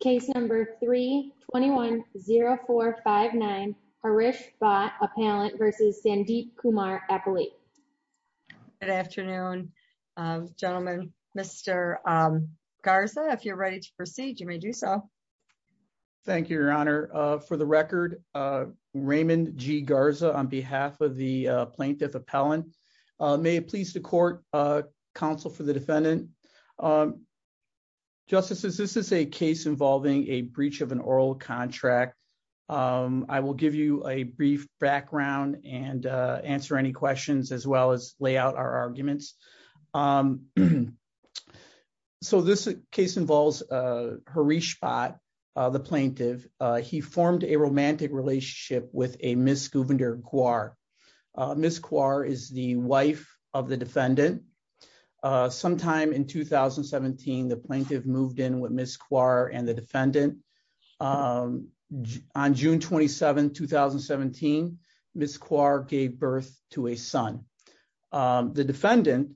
Case number 3-210459, Harish Bhatt Appellant v. Sandeep Kumar Appellate. Good afternoon, gentlemen. Mr. Garza, if you're ready to proceed, you may do so. Thank you, Your Honor. For the record, Raymond G. Garza, on behalf of the plaintiff appellant, may it please the court, counsel for the defendant. Justices, this is a case involving a breach of an oral contract. I will give you a brief background and answer any questions as well as lay out our arguments. So this case involves Harish Bhatt, the plaintiff. He formed a romantic relationship with a Ms. Guvinder Kaur. Ms. Kaur is the wife of the defendant. Sometime in 2017, the plaintiff moved in with Ms. Kaur and the defendant. On June 27, 2017, Ms. Kaur gave birth to a son. The defendant,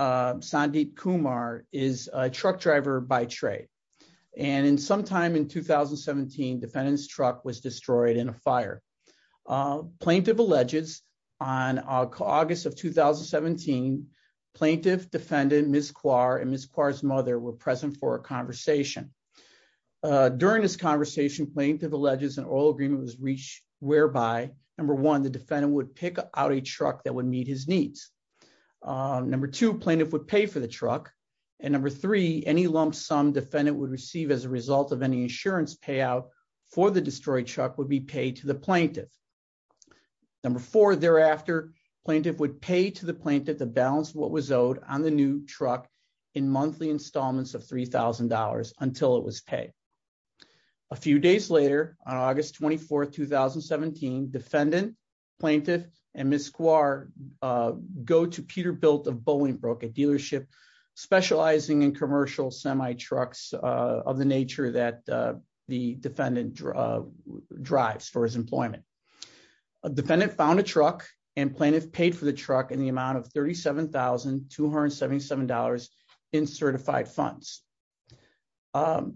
Sandeep Kumar, is a truck driver by trade. And sometime in 2017, defendant's truck was destroyed in a fire. Plaintiff alleges on August of 2017, plaintiff, defendant, Ms. Kaur and Ms. Kaur's mother were present for a conversation. During this conversation, plaintiff alleges an oral agreement was reached whereby, number one, the defendant would pick out a truck that would meet his needs. Number two, plaintiff would pay for the truck. And number three, any lump sum defendant would receive as a result of any insurance payout for the destroyed truck would be paid to the plaintiff. Number four, thereafter, plaintiff would pay to the plaintiff to balance what was owed on the new truck in monthly installments of $3,000 until it was paid. A few days later, on August 24, 2017, defendant, plaintiff and Ms. Kaur go to Peter and commercial semi trucks of the nature that the defendant drives for his employment. Defendant found a truck and plaintiff paid for the truck in the amount of $37,277 in certified funds.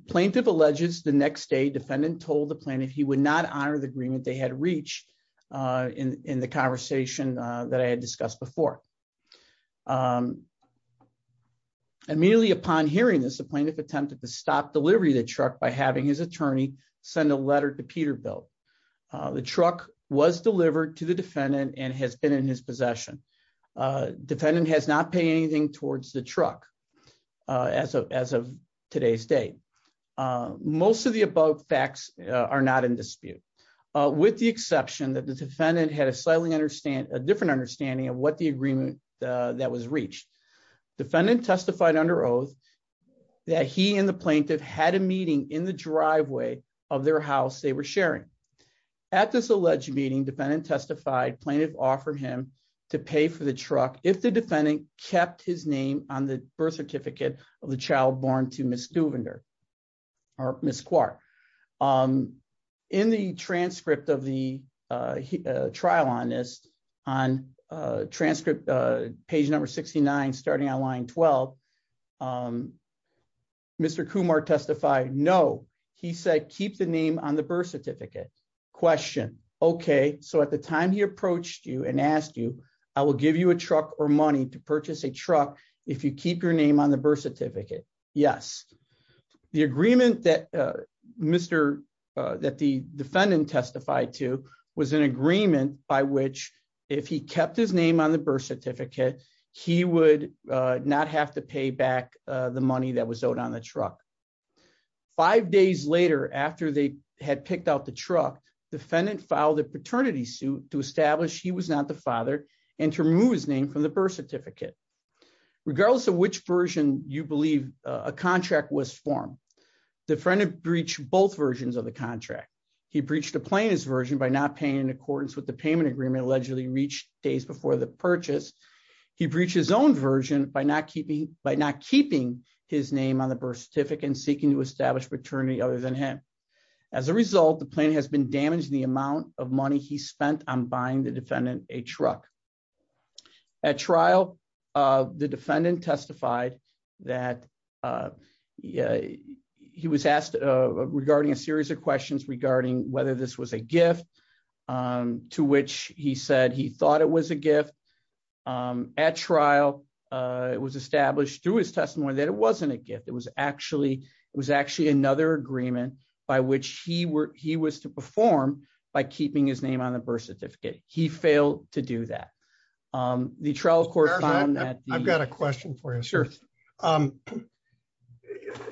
Plaintiff alleges the next day defendant told the plaintiff he would not honor the agreement they had reached in the conversation that I had discussed before. Immediately upon hearing this, the plaintiff attempted to stop delivery of the truck by having his attorney send a letter to Peterbilt. The truck was delivered to the defendant and has been in his possession. Defendant has not paid anything towards the truck as of today's date. Most of the above facts are not in dispute, with the exception that the defendant had a slightly different understanding of what the agreement that was reached. Defendant testified under oath that he and the plaintiff had a meeting in the driveway of their house they were sharing. At this alleged meeting, defendant testified plaintiff offered him to pay for the truck if the defendant kept his name on the birth certificate of the child born to Ms. Kaur. Ms. Kaur, in the transcript of the trial on this, on transcript page number 69, starting on line 12, Mr. Kumar testified, no, he said keep the name on the birth certificate. Question, okay, so at the time he approached you and asked you, I will give you a truck or money to purchase a truck if you keep your name on the birth certificate. Yes. The agreement that Mr. that the defendant testified to was an agreement by which if he kept his name on the birth certificate, he would not have to pay back the money that was owed on the truck. Five days later, after they had picked out the truck, defendant filed a paternity suit to Regardless of which version you believe a contract was formed, the friend had breached both versions of the contract. He breached the plaintiff's version by not paying in accordance with the payment agreement allegedly reached days before the purchase. He breached his own version by not keeping, by not keeping his name on the birth certificate and seeking to establish paternity other than him. As a result, the plaintiff has been damaged the amount of money he spent on the defendant testified that he was asked regarding a series of questions regarding whether this was a gift to which he said he thought it was a gift. At trial, it was established through his testimony that it wasn't a gift. It was actually, it was actually another agreement by which he was to perform by keeping his name on the birth certificate. He failed to do that. The trial court found that I've got a question for you. Sure.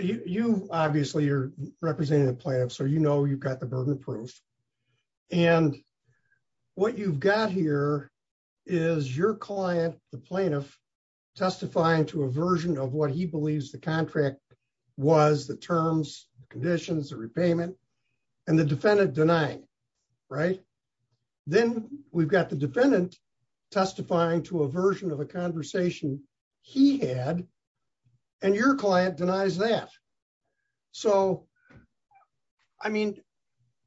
You obviously, you're representing the player. So, you know, you've got the burden proof. And what you've got here is your client, the plaintiff testifying to a version of what he believes the contract was the terms, the conditions, the repayment, and the defendant denying, right? Then we've got the defendant testifying to a version of a conversation he had, and your client denies that. So, I mean,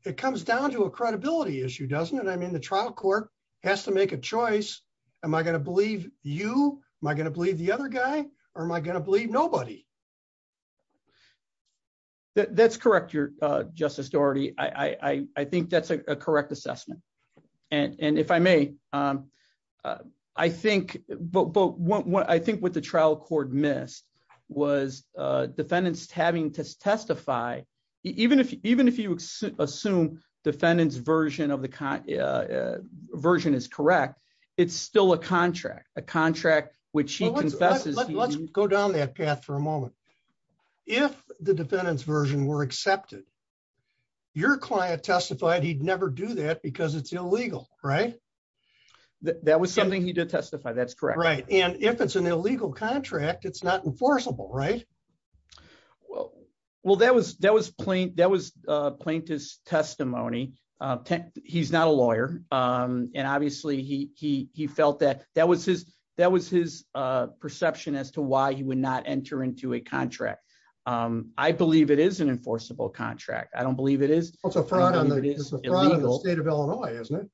it comes down to a credibility issue, doesn't it? I mean, the trial court has to make a choice. Am I going to believe you? Am I going to believe the other guy? Or am I going to believe nobody? That's correct, Justice Dougherty. I think that's a correct assessment. And if I may, I think what the trial court missed was defendants having to testify, even if you assume defendant's version is correct, it's still a contract, a contract which he confesses. Let's go down that path for a moment. If the defendant's version were accepted, your client testified he'd never do that because it's illegal, right? That was something he did testify. That's correct. Right. And if it's an illegal contract, it's not enforceable, right? Well, that was plaintiff's testimony. He's not a lawyer. And obviously, he felt that that was his perception as to why he would not enter into a contract. I believe it is an enforceable contract. I don't believe it is. It's a fraud on the state of Illinois, isn't it?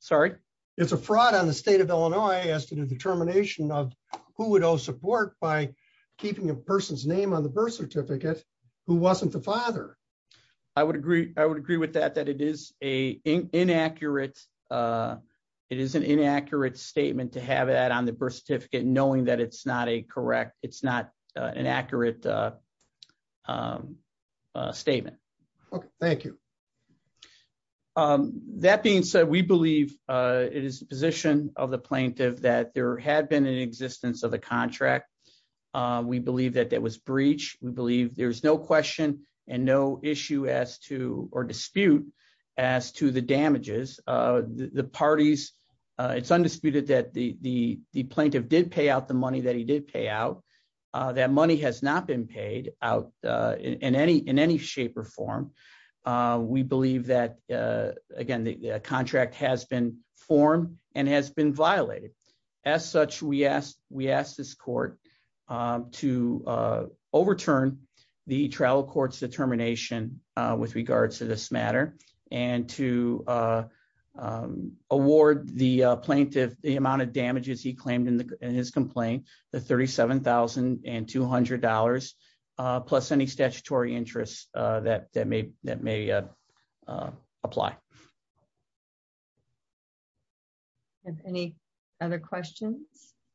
Sorry? It's a fraud on the state of Illinois as to the determination of who would owe support by keeping a person's name on the birth certificate who wasn't the father. I would agree. I would agree with that, that it is an inaccurate statement to have that on the birth certificate, knowing that it's not an accurate statement. Okay. Thank you. That being said, we believe it is the position of the plaintiff that there had been an existence of contract. We believe that that was breach. We believe there's no question and no issue as to or dispute as to the damages. The parties, it's undisputed that the plaintiff did pay out the money that he did pay out. That money has not been paid out in any shape or form. We believe that, again, the contract has been formed and has been violated. As such, we asked this court to overturn the trial court's determination with regards to this matter and to award the plaintiff the amount of damages he claimed in his complaint, the $37,200 plus any statutory interest that may apply. Any other questions?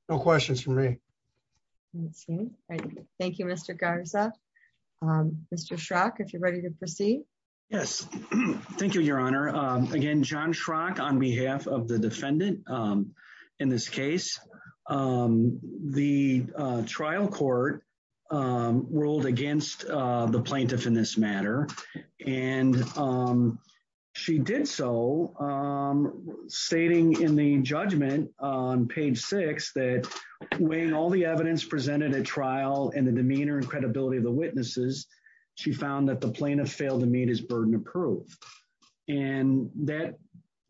No questions for me. Thank you, Mr. Garza. Mr. Schrock, if you're ready to proceed. Yes. Thank you, Your Honor. Again, John Schrock on behalf of the Plaintiff's Office. She did so stating in the judgment on page six that when all the evidence presented at trial and the demeanor and credibility of the witnesses, she found that the plaintiff failed to meet his burden of proof. That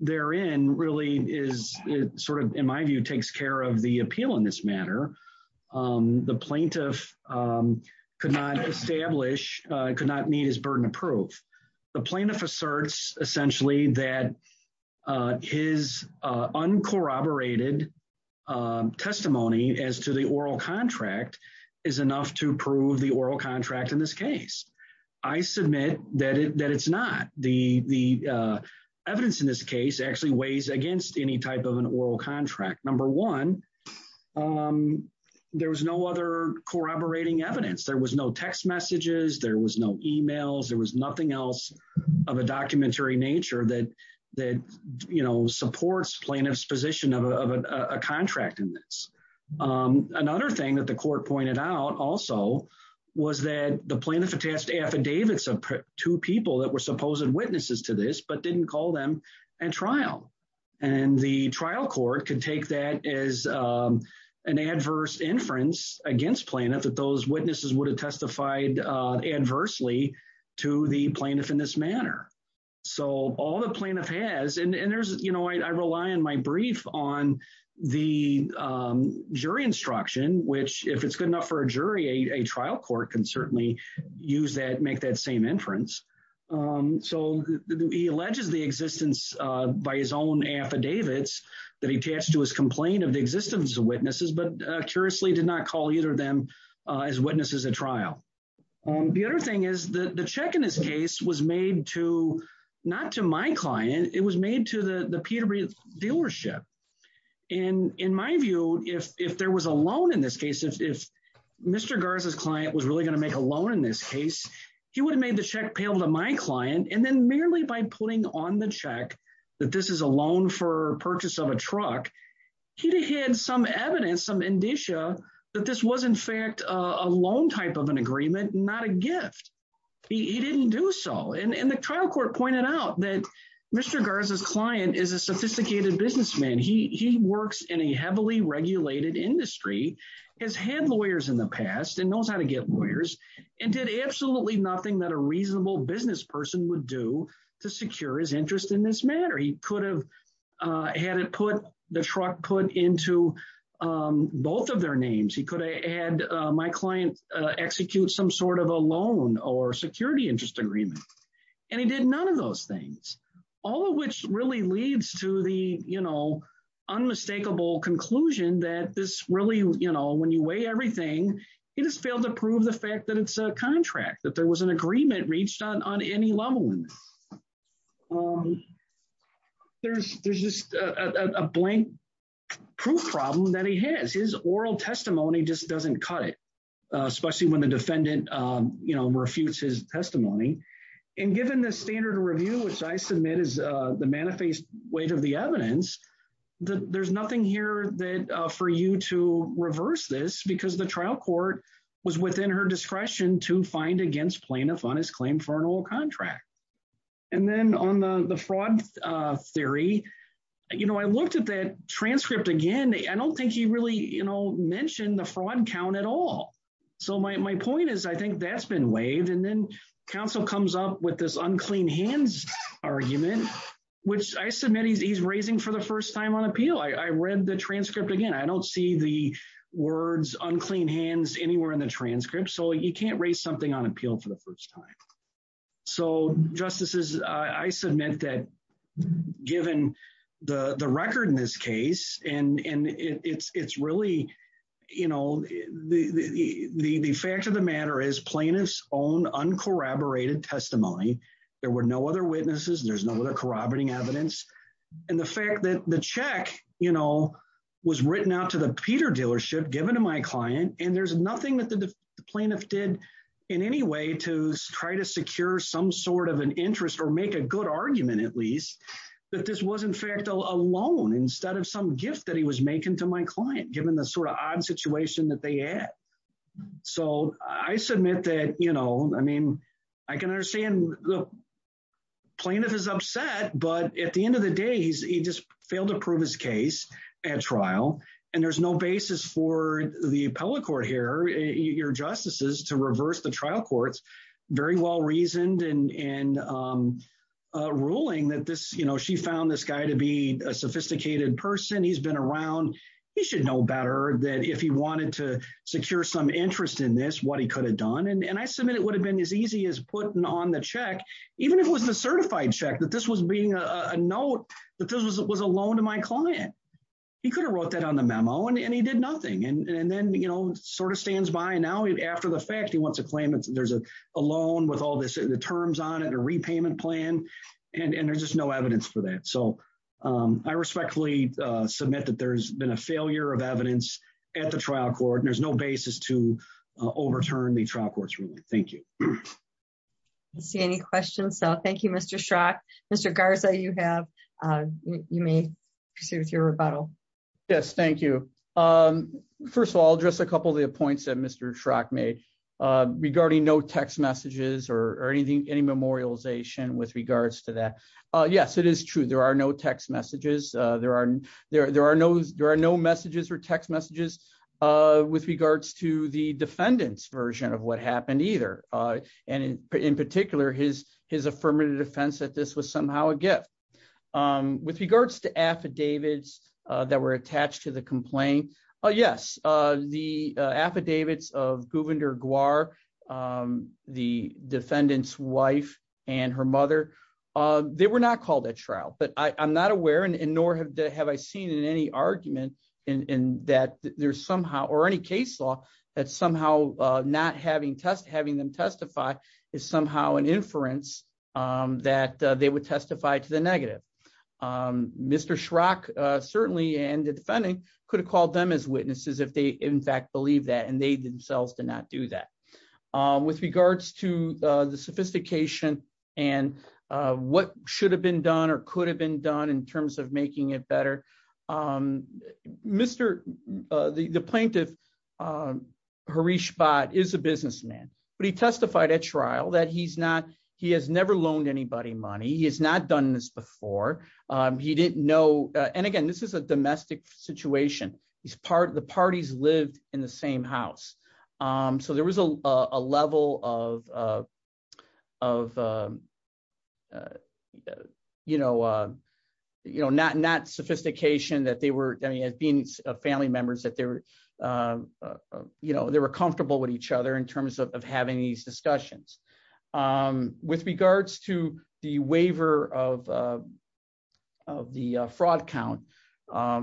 therein really is sort of, in my view, takes care of the plaintiff asserts essentially that his uncorroborated testimony as to the oral contract is enough to prove the oral contract in this case. I submit that it's not. The evidence in this case actually weighs against any type of an oral contract. Number one, there was no other corroborating evidence. There was no text messages, there was no emails, there was nothing else of a documentary nature that supports plaintiff's position of a contract in this. Another thing that the court pointed out also was that the plaintiff attached affidavits of two people that were supposed witnesses to this but didn't call them at trial. And the trial court could take that as an adverse inference against plaintiff that those witnesses would testify adversely to the plaintiff in this manner. So all the plaintiff has, and there's, you know, I rely on my brief on the jury instruction, which if it's good enough for a jury, a trial court can certainly use that, make that same inference. So he alleges the existence by his own affidavits that he attached to his complaint of the existence of witnesses but curiously did not call either of them as witnesses at trial. The other thing is that the check in this case was made to, not to my client, it was made to the Peterborough dealership. And in my view, if there was a loan in this case, if Mr. Garza's client was really going to make a loan in this case, he would have made the check payable to my client and then merely by putting on the that this was in fact a loan type of an agreement, not a gift. He didn't do so. And the trial court pointed out that Mr. Garza's client is a sophisticated businessman. He works in a heavily regulated industry, has had lawyers in the past and knows how to get lawyers and did absolutely nothing that a reasonable business person would do to secure his interest in this matter. He could he could have had my client execute some sort of a loan or security interest agreement. And he did none of those things, all of which really leads to the, you know, unmistakable conclusion that this really, you know, when you weigh everything, he just failed to prove the fact that it's a contract that there was an agreement reached on any level. There's there's just a blank proof problem that he has. His oral testimony just doesn't cut it, especially when the defendant, you know, refutes his testimony. And given the standard review, which I submit is the manifest weight of the evidence, that there's nothing here that for you to reverse this because the trial court was within her discretion to find against plaintiff on his claim for an oral contract. And then on the fraud theory, you know, I looked at that transcript again. I don't think he really, you know, mentioned the fraud count at all. So my point is, I think that's been waived. And then counsel comes up with this unclean hands argument, which I submit he's he's raising for the first time on appeal. I read the transcript again. I don't see the words unclean hands anywhere in the transcript. So you can't raise something on appeal for the first time. So justices, I submit that given the record in this case, and it's really, you know, the fact of the matter is plaintiff's own uncorroborated testimony. There were no other witnesses. There's no other corroborating evidence. And the fact that the check, you know, was written out to the Peter dealership given to my client. And there's nothing that the plaintiff did in any way to try to secure some sort of an interest or make a good argument, at least, that this was, in fact, a loan instead of some gift that he was making to my client, given the sort of odd situation that they had. So I submit that, you know, I mean, I can understand the plaintiff is upset, but at the end of the day, he just failed to prove his at trial. And there's no basis for the appellate court here, your justices to reverse the trial courts, very well reasoned and ruling that this, you know, she found this guy to be a sophisticated person, he's been around, he should know better that if he wanted to secure some interest in this, what he could have done. And I submit it would have been as easy as putting on the check, even if it was a certified check, that this was being a note, that this was a loan to my client, he could have wrote that on the memo, and he did nothing. And then, you know, sort of stands by now, after the fact, he wants to claim that there's a loan with all this, the terms on it, a repayment plan. And there's just no evidence for that. So I respectfully submit that there's been a failure of evidence at the trial court. And there's no basis to overturn the trial courts ruling. Thank you. I don't see any questions. So thank you, Mr. Schrock. Mr. Garza, you may proceed with your rebuttal. Yes, thank you. First of all, just a couple of the points that Mr. Schrock made regarding no text messages or anything, any memorialization with regards to that. Yes, it is true. There are no text messages. There are no messages or text messages with regards to the defendant's version of what happened either. And in particular, his affirmative defense that this was somehow a gift. With regards to affidavits that were attached to the complaint, yes, the affidavits of Gouverneur Guare, the defendant's wife, and her mother, they were not called at trial. But I'm not aware, and nor have I seen in any case law, that somehow not having them testify is somehow an inference that they would testify to the negative. Mr. Schrock, certainly, and the defendant, could have called them as witnesses if they, in fact, believed that. And they themselves did not do that. With regards to the sophistication and what should have been done or could have been done in terms of making it the plaintiff, Harish Bhatt is a businessman. But he testified at trial that he has never loaned anybody money. He has not done this before. He didn't know. And again, this is a domestic situation. The parties lived in the same house. So there was a level of not sophistication that they were, as being family members, that they were comfortable with each other in terms of having these discussions. With regards to the waiver of the fraud count,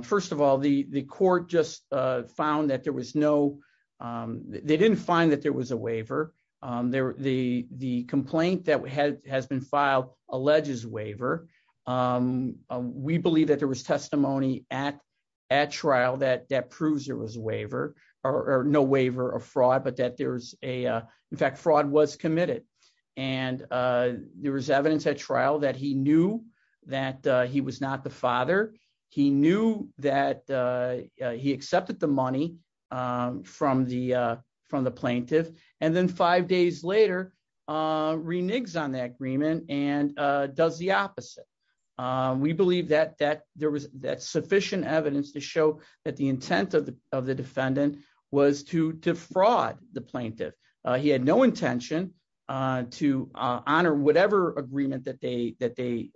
first of all, the court just found that there was no, they didn't find that there was a waiver. The complaint that has been filed alleges waiver. We believe that there was testimony at trial that proves there was waiver, or no waiver of fraud, but that there was a, in fact, fraud was committed. And there was evidence at trial that he knew that he was not the father. He knew that he accepted the money from the plaintiff. And then five days later, reneged on that agreement and does the opposite. We believe that there was sufficient evidence to show that the intent of the defendant was to defraud the plaintiff. He had no intention to honor whatever agreement that they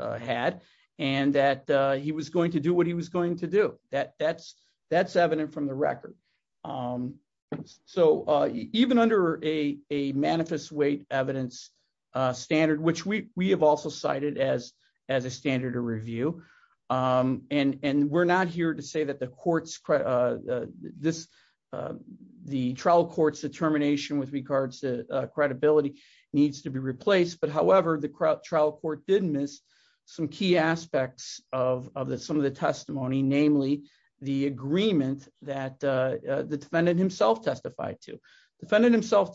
had, and that he was going to do what he was going to do. That's evident from the record. So even under a manifest weight evidence standard, which we have also cited as a standard of review, and we're not here to say that the trial court's determination with regards to credibility needs to be replaced, but however, the trial court did miss some key aspects of some of the testimony, namely the agreement that the defendant himself testified to. Defendant himself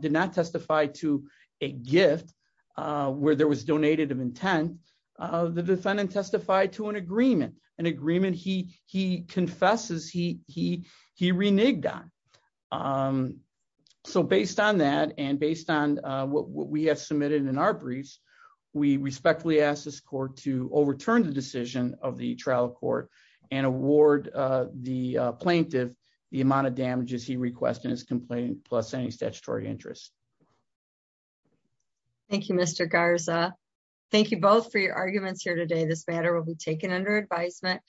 did not testify to a gift where there was donated of intent. The defendant testified to an agreement, an agreement he confesses he reneged on. So based on that, and based on what we have submitted in our briefs, we respectfully ask this court to overturn the decision of the trial court and award the plaintiff the amount of damages he requests in his complaint plus any statutory interest. Thank you, Mr. Garza. Thank you both for your time. This matter will be taken under advisement.